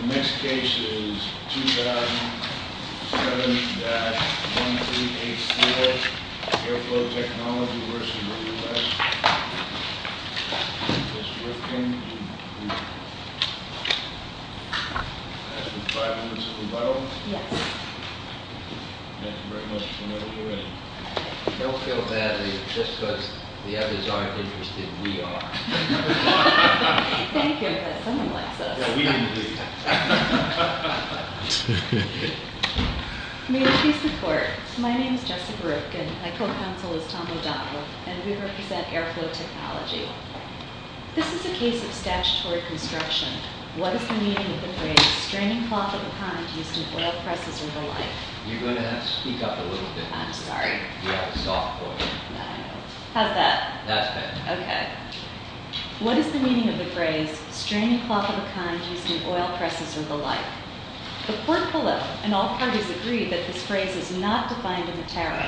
The next case is 2007-138CF, Airflow Technology v. United States. Thank you very much for being here. I don't feel badly, just because the others aren't interested, we are. Thank you, but someone likes us. Yeah, we do. Thank you. May there be support. My name is Jessica Rootkin, my co-counsel is Tom O'Donnell, and we represent Airflow Technology. This is a case of statutory construction. What is the meaning of the phrase, straining cloth of a kind used in oil presses or the like. The court believe, and all parties agree, that this phrase is not defined in the tariff.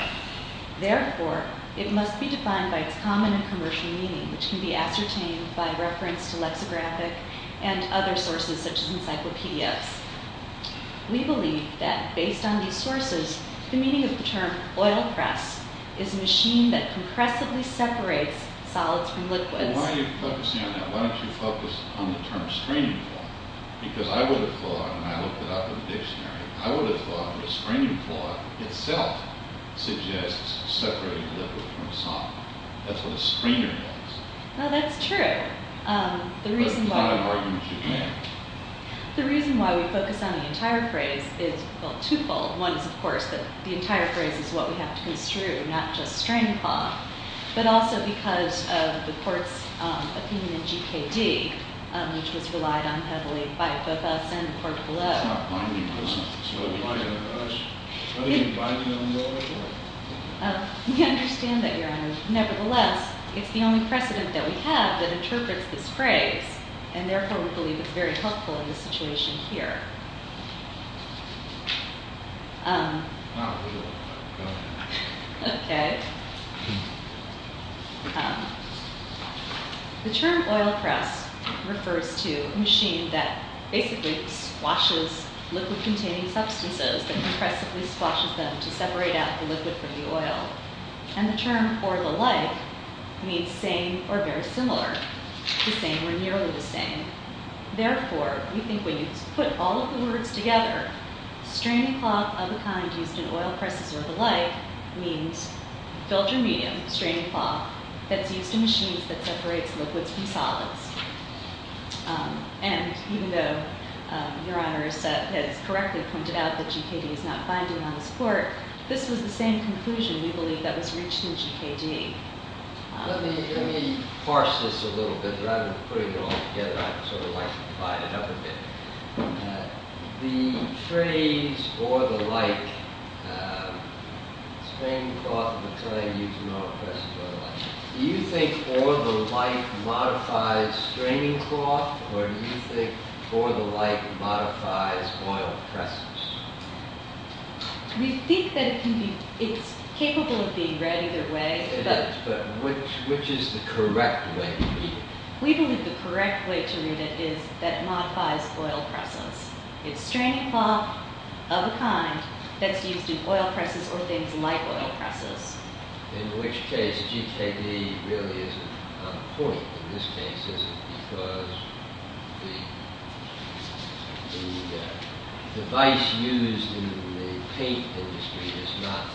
Therefore, it must be defined by its common and commercial meaning, which can be ascertained by reference to lexicographic and other sources such as encyclopedias. We believe that based on these sources, the meaning of the term oil press is a machine that compressively separates solids from liquids. Why are you focusing on that? Why don't you focus on the term straining cloth? Because I would have thought, and I looked it up in the dictionary, I would have thought that a straining cloth itself suggests separating liquid from solid. That's what a strainer does. Well, that's true. But it's not an argument you can make. The reason why we focus on the entire phrase is, well, twofold. One is, of course, that the entire phrase is what we have to construe, not just straining cloth. But also because of the court's opinion in GKD, which was relied on heavily by both us and the court below. That's not why we focus on it. So why are you focusing on it? Are you biding on the oil press? We understand that, Your Honor. Nevertheless, it's the only precedent that we have that interprets this phrase, and therefore we believe it's very helpful in the situation here. Not really. Okay. The term oil press refers to a machine that basically squashes liquid-containing substances, that compressively squashes them to separate out the liquid from the oil. And the term, or the like, means same or very similar. The same or nearly the same. Therefore, we think when you put all of the words together, straining cloth of the kind used in oil presses or the like means filter medium, straining cloth, that's used in machines that separates liquids from solids. And even though Your Honor has correctly pointed out that GKD is not binding on this court, this was the same conclusion, we believe, that was reached in GKD. Let me parse this a little bit. Rather than putting it all together, I'd sort of like to divide it up a bit. The phrase, or the like, straining cloth of the kind used in oil presses or the like, do you think or the like modifies straining cloth, or do you think or the like modifies oil presses? We think that it's capable of being read either way. It is, but which is the correct way to read it? We believe the correct way to read it is that it modifies oil presses. It's straining cloth of the kind that's used in oil presses or things like oil presses. In which case, GKD really isn't on point. In this case, is it because the device used in the paint industry is not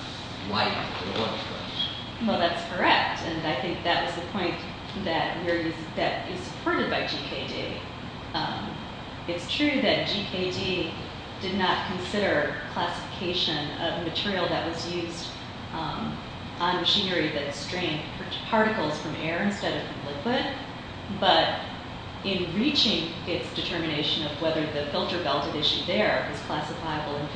like an oil press? Well, that's correct, and I think that was the point that is supported by GKD. It's true that GKD did not consider classification of material that was used on machinery that strained particles from air instead of from liquid, but in reaching its determination of whether the filter-belted issue there is classifiable in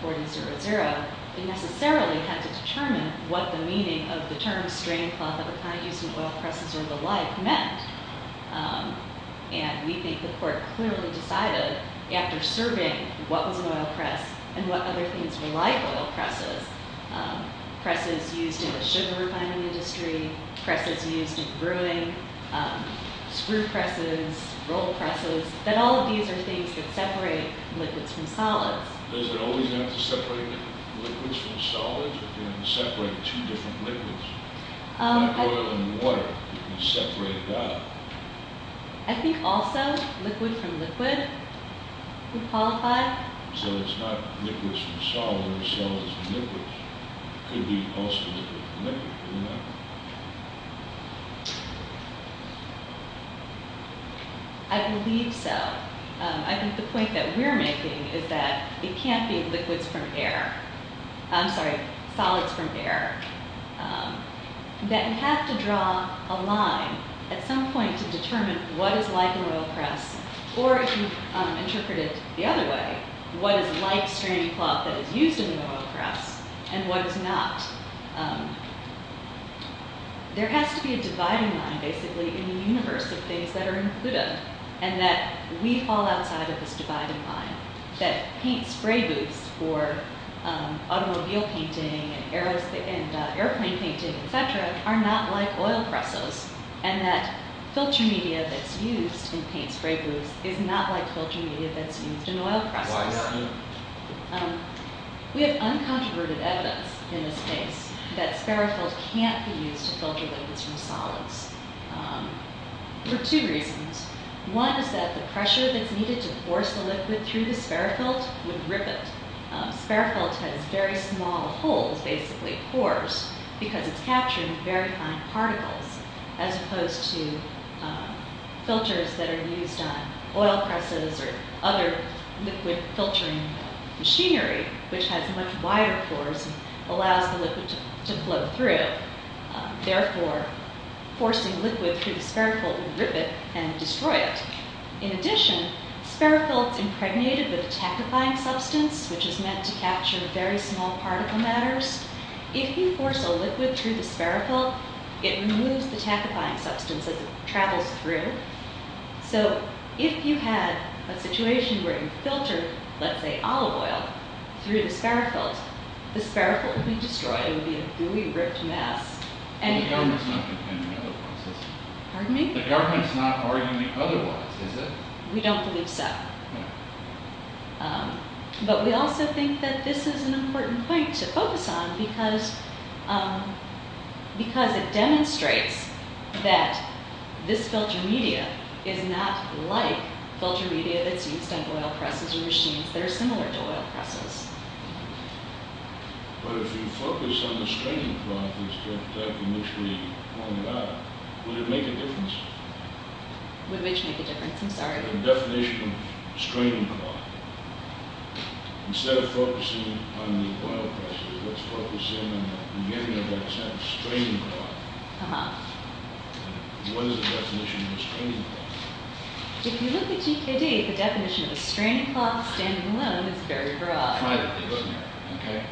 5911.4200, it necessarily had to determine what the meaning of the term straining cloth of the kind used in oil presses or the like meant. And we think the court clearly decided after surveying what was an oil press and what other things were like oil presses, presses used in the sugar refining industry, presses used in brewing, screw presses, roll presses, that all of these are things that separate liquids from solids. Does it always have to separate liquids from solids, or can it separate two different liquids? Like oil and water, you can separate that. I think also liquid from liquid would qualify. So it's not liquids from solids, it's solids from liquids. It could be also liquid from liquid, couldn't it? I believe so. I think the point that we're making is that it can't be liquids from air. I'm sorry, solids from air. That you have to draw a line at some point to determine what is like an oil press, or if you interpret it the other way, what is like straining cloth that is used in an oil press, and what is not. There has to be a dividing line, basically, in the universe of things that are included, and that we fall outside of this dividing line, that paint spray booths for automobile painting and airplane painting, etc., are not like oil presses, and that filter media that's used in paint spray booths is not like filter media that's used in oil presses. We have uncontroverted evidence in this case that Sparrowfield can't be used to filter liquids from solids, for two reasons. One is that the pressure that's needed to force the liquid through the Sparrowfield would rip it. Sparrowfield has very small holes, basically, pores, because it's capturing very fine particles, as opposed to filters that are used on oil presses or other liquid filtering machinery, which has much wider pores and allows the liquid to flow through. Therefore, forcing liquid through the Sparrowfield would rip it and destroy it. In addition, Sparrowfield is impregnated with a tachyfying substance, which is meant to capture very small particle matters. If you force a liquid through the Sparrowfield, it removes the tachyfying substance as it travels through. So if you had a situation where you filtered, let's say, olive oil through the Sparrowfield, the Sparrowfield would be destroyed. It would be a fully ripped mess. The government's not contending otherwise, is it? Pardon me? The government's not arguing otherwise, is it? We don't believe so. No. But we also think that this is an important point to focus on because it demonstrates that this filter media is not like filter media that's used on oil presses or machines that are similar to oil presses. But if you focus on the straining cloth instead of the type in which we point it out, would it make a difference? Would which make a difference? I'm sorry? The definition of straining cloth. Instead of focusing on the oil presses, let's focus in on the beginning of that sentence, straining cloth. Uh-huh. What is the definition of a straining cloth? If you look at GKD, the definition of a straining cloth standing alone is very broad. Try it. Okay.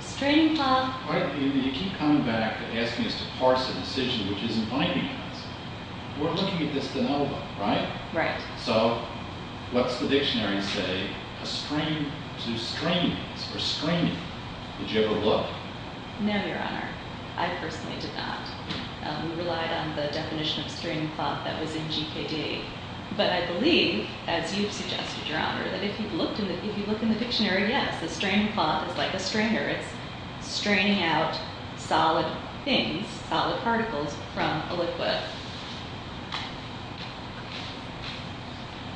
Straining cloth. You keep coming back asking us to parse a decision which isn't binding us. We're looking at this de novo, right? Right. So what's the dictionary say? A strain to strainings or straining. Did you ever look? No, Your Honor. I personally did not. We relied on the definition of straining cloth that was in GKD. But I believe, as you've suggested, Your Honor, that if you look in the dictionary, yes, the straining cloth is like a strainer. It's straining out solid things, solid particles from a liquid.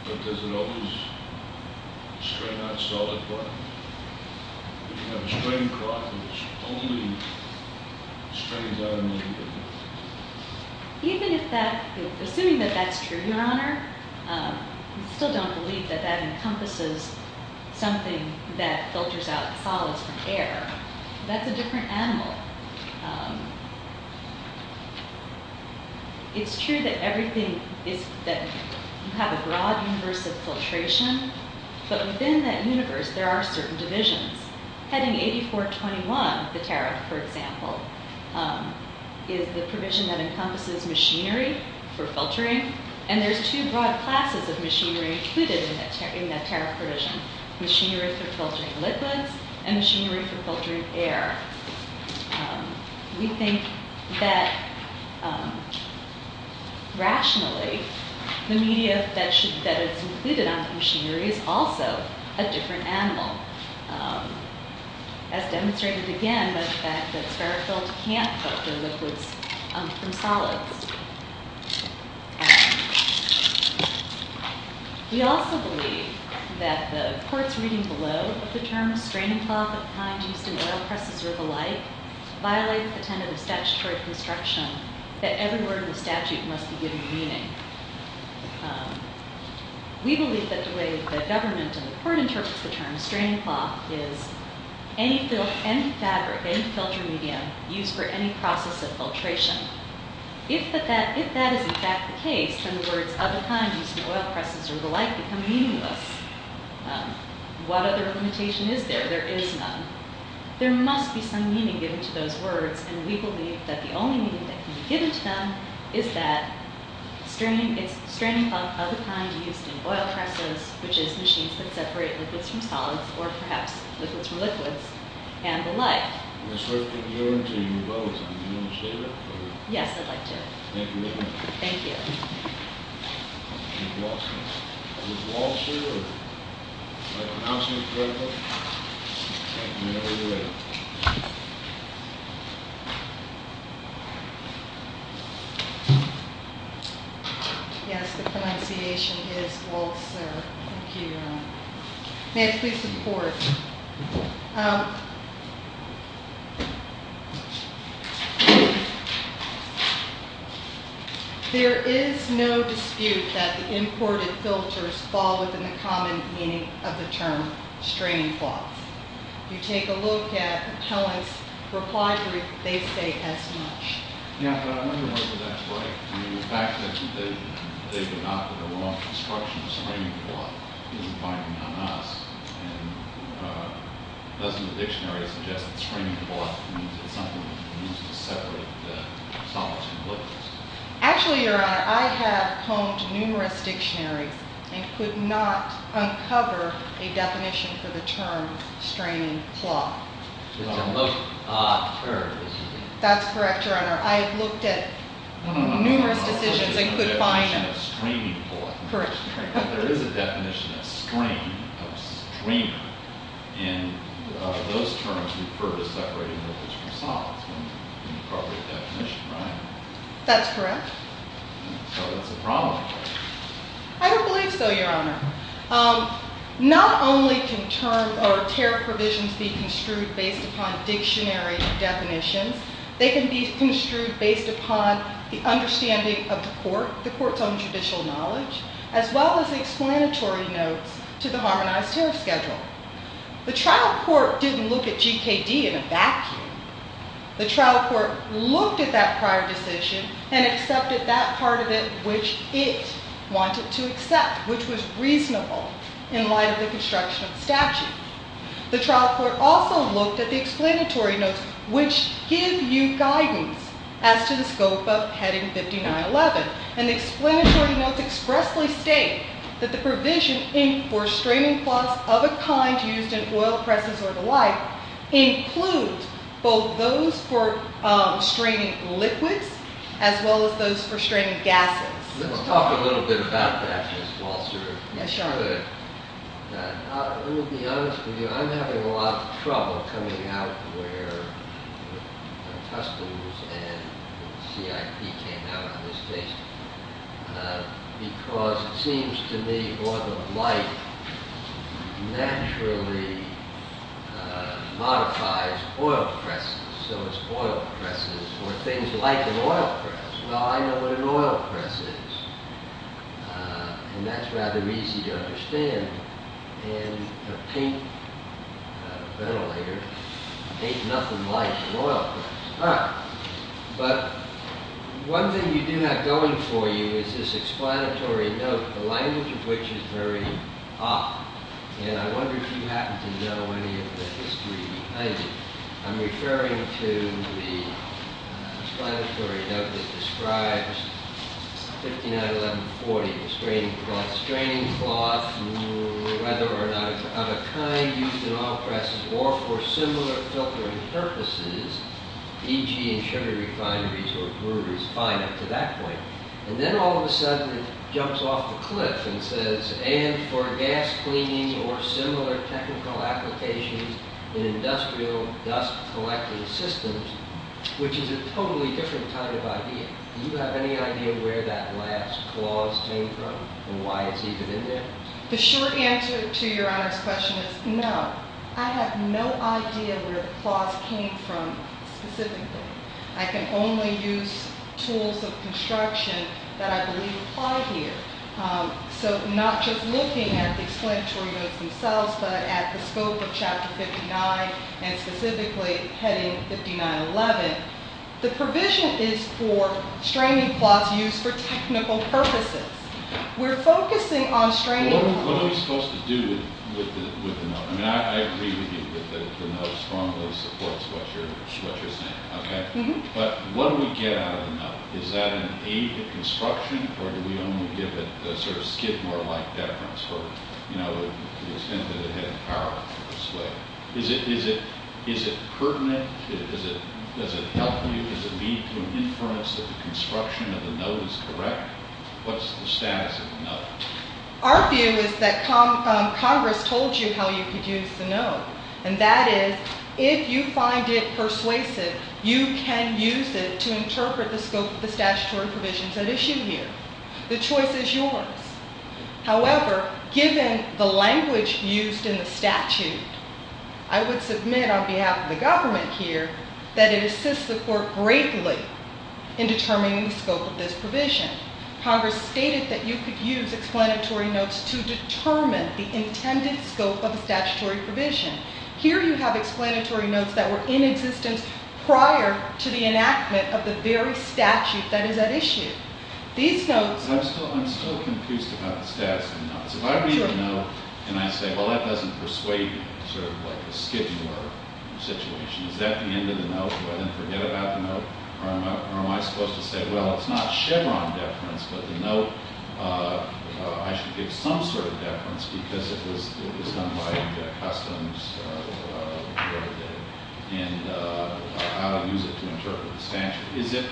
But does it always strain out solid particles? If you have a straining cloth, it's only straining out a liquid. Even if that – assuming that that's true, Your Honor, we still don't believe that that encompasses something that filters out solids from air. That's a different animal. But it's true that everything is – that you have a broad universe of filtration. But within that universe, there are certain divisions. Heading 8421, the tariff, for example, is the provision that encompasses machinery for filtering. And there's two broad classes of machinery included in that tariff provision, machinery for filtering liquids and machinery for filtering air. We think that, rationally, the media that is included on the machinery is also a different animal, as demonstrated again by the fact that spirit-filled can't filter liquids from solids. We also believe that the court's reading below of the term straining cloth of the kind used in oil presses or the like violates the tenet of statutory construction that every word in the statute must be given meaning. We believe that the way the government and the court interprets the term straining cloth is any fabric, any filter medium used for any process of filtration. If that is in fact the case, then the words of the kind used in oil presses or the like become meaningless. What other limitation is there? There is none. There must be some meaning given to those words, and we believe that the only meaning that can be given to them is that straining cloth of the kind used in oil presses, which is machines that separate liquids from solids, or perhaps liquids from liquids, and the like. I'm going to start putting you on to your votes. Do you want to say that? Yes, I'd like to. Thank you very much. Thank you. Ms. Walsh. Ms. Walsh? Would you like to pronounce me correctly? Yes, the pronunciation is Walsh, sir. Thank you, Your Honor. May I please report? There is no dispute that the imported filters fall within the common meaning of the term straining cloth. If you take a look at the appellant's reply brief, they say as much. Yeah, but I wonder whether that's right. I mean, the fact that they did not put a wrong construction of straining cloth is implying they're not us. And doesn't the dictionary suggest that straining cloth means it's something that's used to separate solids from liquids? Actually, Your Honor, I have combed numerous dictionaries and could not uncover a definition for the term straining cloth. It's a most odd term, isn't it? That's correct, Your Honor. I have looked at numerous decisions and could find them. Correct. That's correct. I don't believe so, Your Honor. Not only can term or tariff provisions be construed based upon dictionary definitions, they can be construed based upon the understanding of the court, the court's own judicial knowledge, as well as the explanatory notes to the harmonized tariff schedule. The trial court didn't look at GKD in a vacuum. The trial court looked at that prior decision and accepted that part of it which it wanted to accept, which was reasonable in light of the construction of the statute. The trial court also looked at the explanatory notes which give you guidance as to the scope of heading 5911. And the explanatory notes expressly state that the provision for straining cloths of a kind used in oil presses or the like include both those for straining liquids as well as those for straining gases. Let's talk a little bit about that, Ms. Walser. Yes, Your Honor. Let me be honest with you. I'm having a lot of trouble coming out where Customs and CIP came out on this case because it seems to me that the law of the like naturally modifies oil presses. So it's oil presses or things like an oil press. Well, I know what an oil press is. And that's rather easy to understand. And a paint ventilator ain't nothing like an oil press. All right. But one thing you do have going for you is this explanatory note, the language of which is very odd. And I wonder if you happen to know any of the history behind it. I'm referring to the explanatory note that describes 591140, the straining cloth. Straining cloth, whether or not of a kind used in oil presses or for similar filtering purposes, e.g. in sugar refineries or breweries, fine up to that point. And then all of a sudden it jumps off the cliff and says, and for gas cleaning or similar technical applications in industrial dust collecting systems, which is a totally different kind of idea. Do you have any idea where that last clause came from and why it's even in there? The short answer to Your Honor's question is no. I have no idea where the clause came from specifically. I can only use tools of construction that I believe apply here. So not just looking at the explanatory notes themselves, but at the scope of Chapter 59 and specifically heading 5911, the provision is for straining cloths used for technical purposes. We're focusing on straining cloths. What are we supposed to do with the note? I mean, I agree with you that the note strongly supports what you're saying, okay? But what do we get out of the note? Is that an aid to construction or do we only give it a sort of Skidmore-like deference for, you know, the extent that it had power to persuade? Is it pertinent? Does it help you? Does it lead to an inference that the construction of the note is correct? What's the status of the note? And that is, if you find it persuasive, you can use it to interpret the scope of the statutory provisions at issue here. The choice is yours. However, given the language used in the statute, I would submit on behalf of the government here that it assists the court greatly in determining the scope of this provision. Congress stated that you could use explanatory notes to determine the intended scope of the statutory provision. Here you have explanatory notes that were in existence prior to the enactment of the very statute that is at issue. These notes... I'm still confused about the status of the notes. If I read the note and I say, well, that doesn't persuade me, sort of like a Skidmore situation, is that the end of the note? Do I then forget about the note? Or am I supposed to say, well, it's not Chevron deference, but the note, I should give some sort of deference because it was done by Customs, and how to use it to interpret the statute. Is it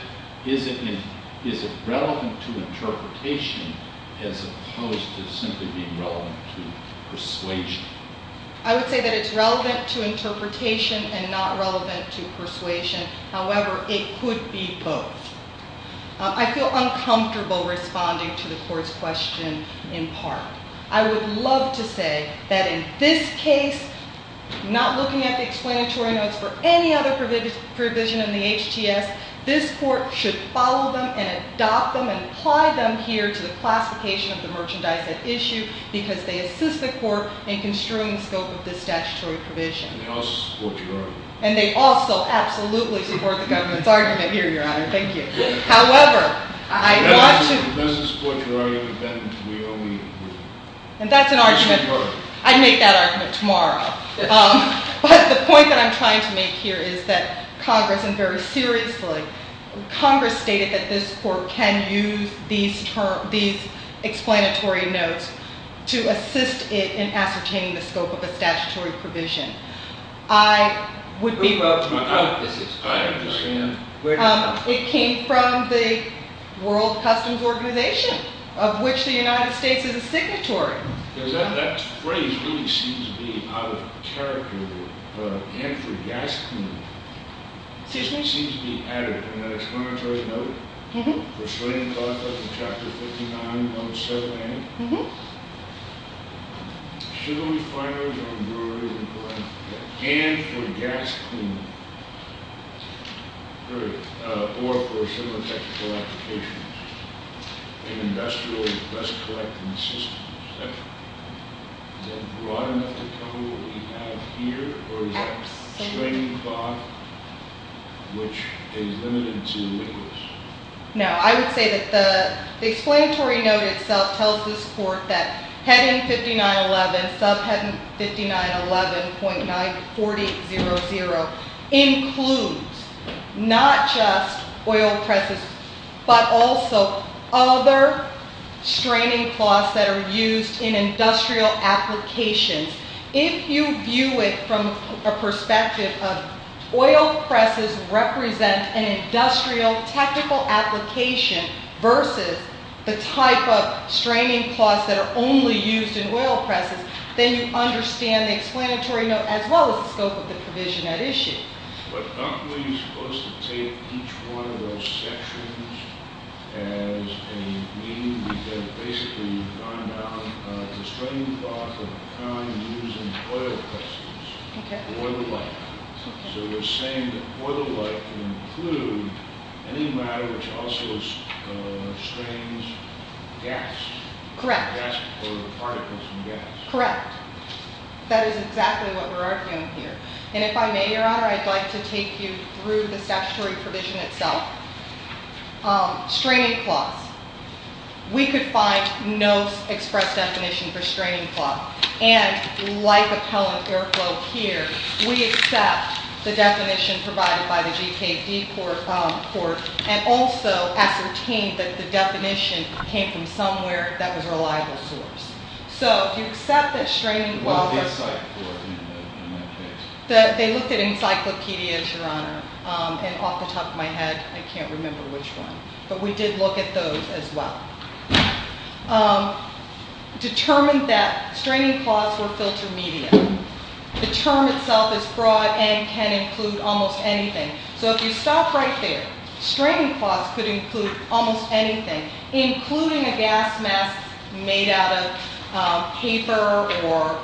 relevant to interpretation as opposed to simply being relevant to persuasion? I would say that it's relevant to interpretation and not relevant to persuasion. However, it could be both. I feel uncomfortable responding to the court's question in part. I would love to say that in this case, not looking at the explanatory notes for any other provision in the HTS, this court should follow them and adopt them and apply them here to the classification of the merchandise at issue because they assist the court in construing the scope of this statutory provision. And they also support your argument. And they also absolutely support the government's argument here, Your Honor. Thank you. However, I want to- And they also support your argument that we only- And that's an argument- We should vote. I'd make that argument tomorrow. But the point that I'm trying to make here is that Congress, and very seriously, Congress stated that this court can use these explanatory notes to assist it in ascertaining the scope of a statutory provision. I would be willing to vote. I understand. It came from the World Customs Organization, of which the United States is a signatory. That phrase really seems to be out of character. Andrew Yaskin- Excuse me? It seems to be added in that explanatory note, for slating cloth of the chapter 59, number 7A, and for gas cleaning, period, or for similar technical applications, and industrial dust collecting systems, etc. Is that broad enough to cover what we have here? Absolutely. Or is that slating cloth, which is limited to windows? No. I would say that the explanatory note itself tells this court that heading 5911, subheading 5911.9400, includes not just oil presses, but also other straining cloths that are used in industrial applications. If you view it from a perspective of oil presses represent an industrial technical application versus the type of straining cloths that are only used in oil presses, then you understand the explanatory note as well as the scope of the provision at issue. But aren't we supposed to take each one of those sections as a meaning, because basically you find out the straining cloth of the kind used in oil presses, or the like. So we're saying that oil or like would include any matter which also strains gas. Correct. Or particles from gas. Correct. That is exactly what we're arguing here. And if I may, Your Honor, I'd like to take you through the statutory provision itself. Straining cloths. We could find no express definition for straining cloth. And like appellant airflow here, we accept the definition provided by the GKD court and also ascertain that the definition came from somewhere that was a reliable source. So if you accept that straining cloth... They looked at encyclopedias, Your Honor. And off the top of my head, I can't remember which one. But we did look at those as well. Determined that straining cloths were filter media. The term itself is broad and can include almost anything. So if you stop right there, straining cloths could include almost anything, including a gas mask made out of paper or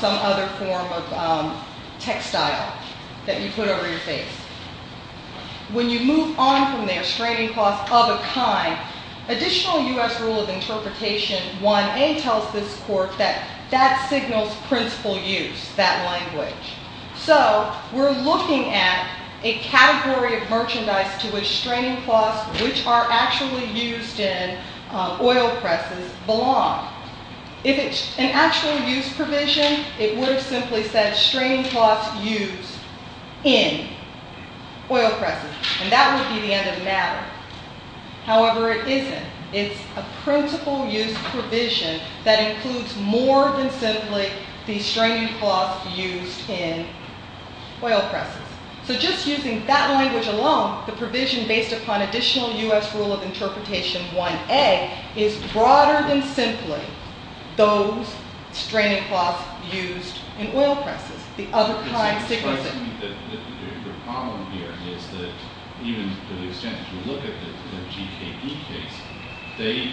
some other form of textile that you put over your face. When you move on from there, straining cloths of a kind, additional U.S. Rule of Interpretation 1A tells this court that that signals principal use, that language. So we're looking at a category of merchandise to which straining cloths, which are actually used in oil presses, belong. If it's an actual use provision, it would have simply said straining cloths used in oil presses. And that would be the end of the matter. However, it isn't. It's a principal use provision that includes more than simply the straining cloths used in oil presses. So just using that language alone, the provision based upon additional U.S. Rule of Interpretation 1A is broader than simply those straining cloths used in oil presses. The other kind signals that... To the extent that you look at the GKE case, they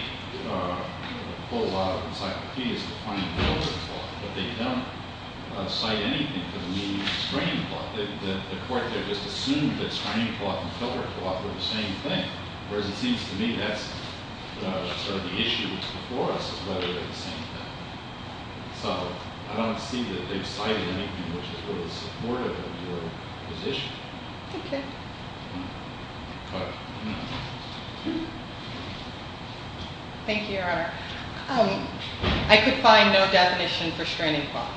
pull a lot of encyclopedias to find filter cloth, but they don't cite anything for the meaning of straining cloth. The court there just assumed that straining cloth and filter cloth were the same thing. Whereas it seems to me that's sort of the issue that's before us is whether they're the same thing. So I don't see that they've cited anything which is really supportive of your position. Okay. Thank you, Your Honor. I could find no definition for straining cloth,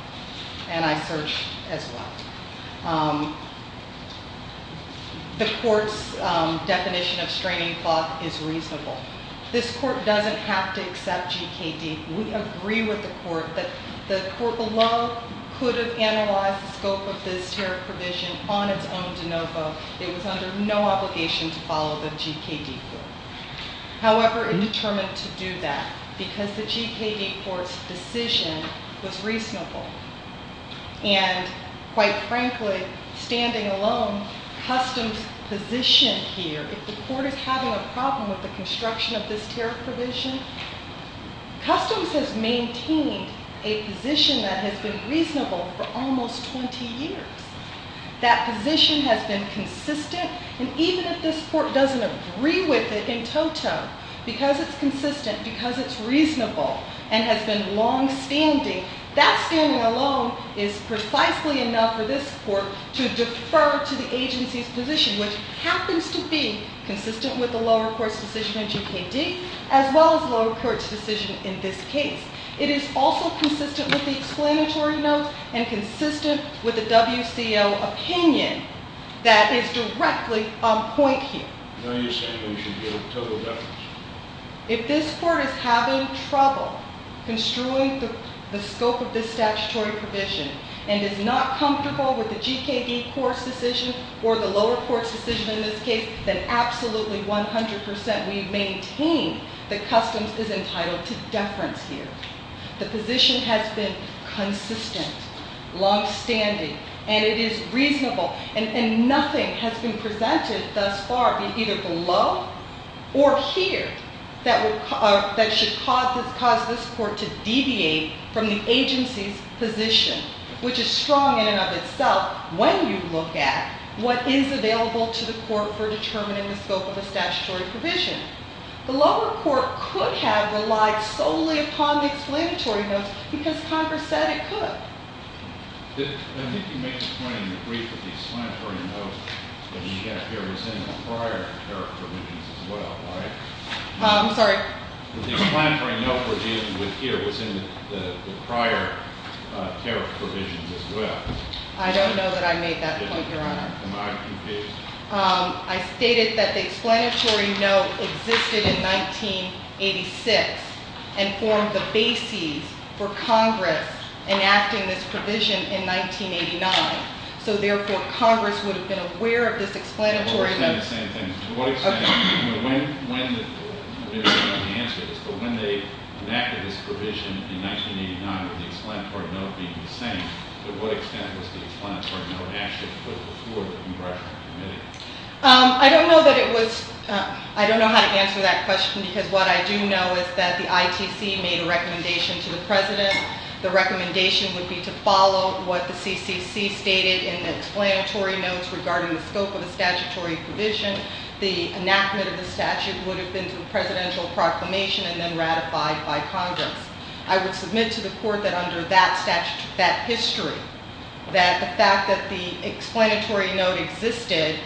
and I searched as well. The court's definition of straining cloth is reasonable. This court doesn't have to accept GKD. We agree with the court that the court below could have analyzed the scope of this tariff provision on its own de novo. It was under no obligation to follow the GKD. However, it determined to do that because the GKD court's decision was reasonable. And quite frankly, standing alone, Customs' position here, if the court is having a problem with the construction of this tariff provision, Customs has maintained a position that has been reasonable for almost 20 years. That position has been consistent, and even if this court doesn't agree with it in totem, because it's consistent, because it's reasonable, and has been longstanding, that standing alone is precisely enough for this court to defer to the agency's position, which happens to be consistent with the lower-course decision in GKD, as well as the lower-course decision in this case. It is also consistent with the explanatory notes and consistent with the WCO opinion that is directly on point here. If this court is having trouble construing the scope of this statutory provision and is not comfortable with the GKD court's decision or the lower court's decision in this case, then absolutely 100% we maintain that Customs is entitled to deference here. The position has been consistent, longstanding, and it is reasonable, and nothing has been presented thus far either below or here that should cause this court to deviate from the agency's position, which is strong in and of itself when you look at what is available to the court for determining the scope of a statutory provision. The lower court could have relied solely upon the explanatory notes because Congress said it could. I think you make the point in the brief that the explanatory note that we have here was in the prior tariff provisions as well, right? I'm sorry? The explanatory note we're dealing with here was in the prior tariff provisions as well. I don't know that I made that point, Your Honor. Am I confused? I stated that the explanatory note existed in 1986 and formed the basis for Congress enacting this provision in 1989, so therefore Congress would have been aware of this explanatory note... Well, we're saying the same thing. To what extent... I don't know how to answer this, but when they enacted this provision in 1989 with the explanatory note being the same, to what extent was the explanatory note actually put before the congressional committee? I don't know how to answer that question because what I do know is that the ITC made a recommendation to the President. The recommendation would be to follow what the CCC stated in the explanatory notes regarding the scope of the statutory provision. The enactment of the statute would have been to the presidential proclamation and then ratified by Congress. I would submit to the Court that under that history, that the fact that the explanatory note existed to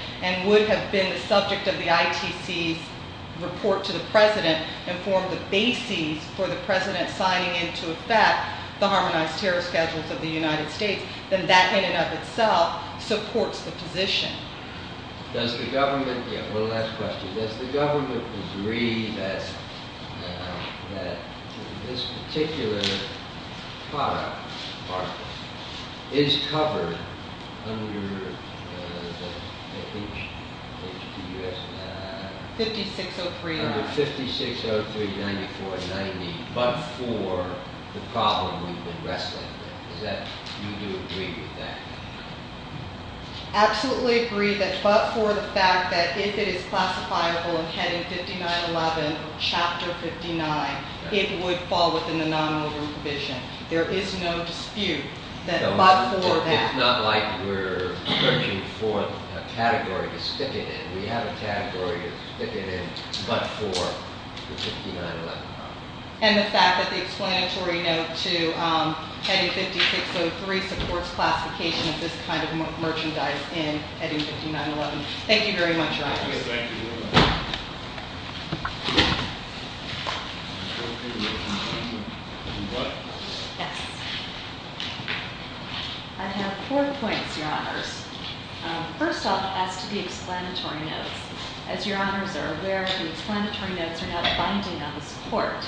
the President and formed the basis for the President signing into effect the Harmonized Terror Schedules of the United States, then that in and of itself supports the position. One last question. Does the government agree that this particular product is covered under... 56039490 but for the problem we've been wrestling with? Do you agree with that? Absolutely agree but for the fact that if it is classifiable in heading 5911 or chapter 59, it would fall within the nominal group provision. There is no dispute that but for that. It's not like we're searching for a category to stick it in. We have a category to stick it in but for the 5911 problem. And the fact that the explanatory note to heading 5603 supports classification of this kind of merchandise in heading 5911. Thank you very much, Your Honors. I have four points, Your Honors. First off, as to the explanatory notes. As Your Honors are aware, the explanatory notes are not binding on this Court.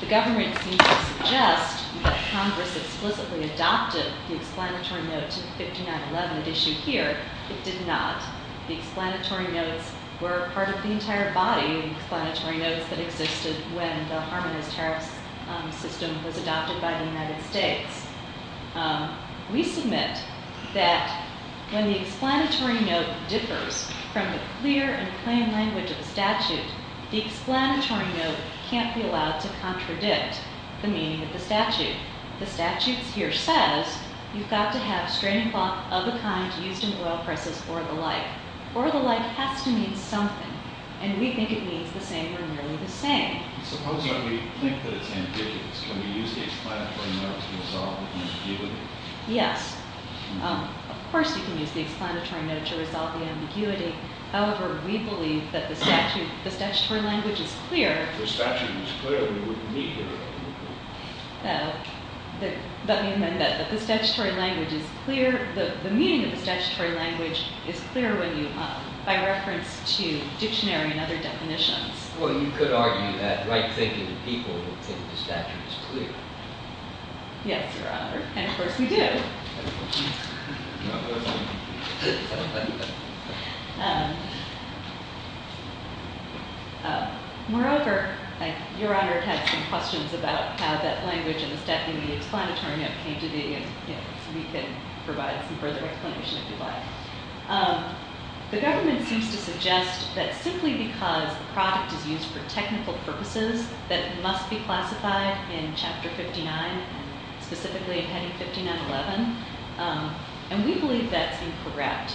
The government seems to suggest that Congress explicitly adopted the explanatory note to 5911 at issue here. It did not. The explanatory notes were part of the entire body of explanatory notes that existed when the Harmonized Terror System was adopted by the United States. We submit that when the explanatory note differs from the clear and plain language of the statute, the explanatory note can't be allowed to contradict the meaning of the statute. The statute here says you've got to have straining cloth of a kind used in oil presses or the like. Or the like has to mean something. And we think it means the same or nearly the same. Suppose we think that it's ambiguous. Can we use the explanatory note to resolve the ambiguity? Yes. Of course you can use the explanatory note to resolve the ambiguity. However, we believe that the statutory language is clear. If the statute was clear, we wouldn't need it. Let me amend that. The meaning of the statutory language is clear by reference to that right thinking of people who think the statute is clear. Yes, Your Honor. And of course we do. Moreover, Your Honor had some questions about how that language in the Statute of the Explanatory Note came to be and we can provide some further explanation if you'd like. The government seems to suggest that simply because the product is used for technical purposes that it must be classified in Chapter 59, specifically in Heading 5911. And we believe that's incorrect.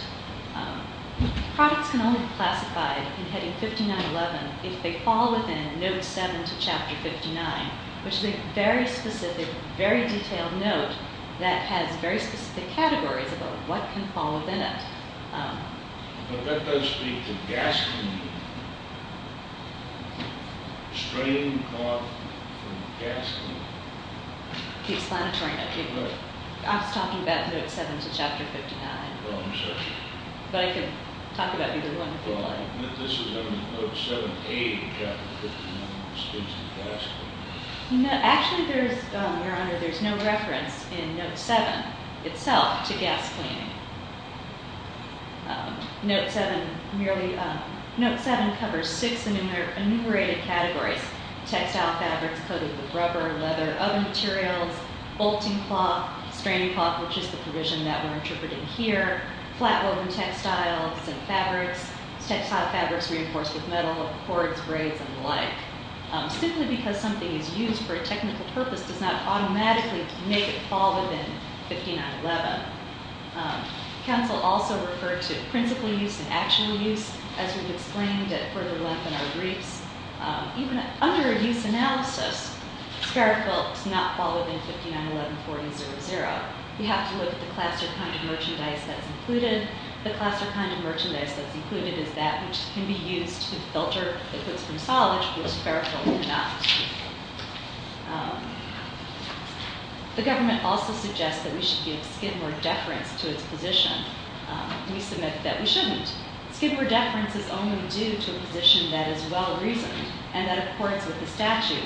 Products can only be classified in Heading 5911 if they fall within Note 7 to Chapter 59, which is a very specific, very detailed note that has very specific categories about what can fall within it. But that does speak to gas cleaning. Strain caused from gas cleaning. The explanatory note. I was talking about Note 7 to Chapter 59. Well, I'm sorry. But I could talk about either one. Well, I admit this is under Note 7A of Chapter 59, which speaks to gas cleaning. Actually, Your Honor, there's no reference in Note 7 itself to gas cleaning. Note 7 covers six enumerated categories. Textile fabrics coated with rubber, leather, other materials, bolting cloth, straining cloth, which is the provision that we're interpreting here, flat woven textiles and fabrics, textile fabrics reinforced with metal, cords, braids, and the like. Simply because something is used for a technical purpose does not automatically make it fall within 5911. Counsel also referred to principal use and actual use as we've explained at further length in our briefs. Even under a use analysis, Sparrow Filth does not fall within 5911. We have to look at the class or kind of merchandise that's included. The class or kind of merchandise that's included is that which can be used to filter liquids from solids, which Sparrow Filth cannot. The government also suggests that we should give Skidmore deference to its position. We submit that we shouldn't. Skidmore deference is only due to a position that is well-reasoned and that accords with the statute.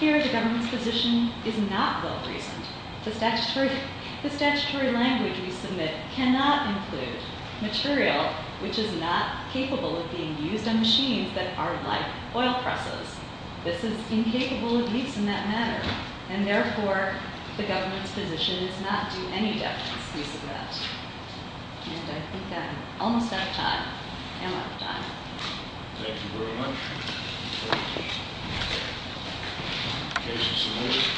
Here, the government's position is not well-reasoned. The statutory language we submit cannot include material which is not capable of being used on machines that are like oil presses. This is incapable of use in that matter. And therefore, the government's position is not to do any deference use of that. And I think I'm almost out of time. Am I out of time? Thank you very much.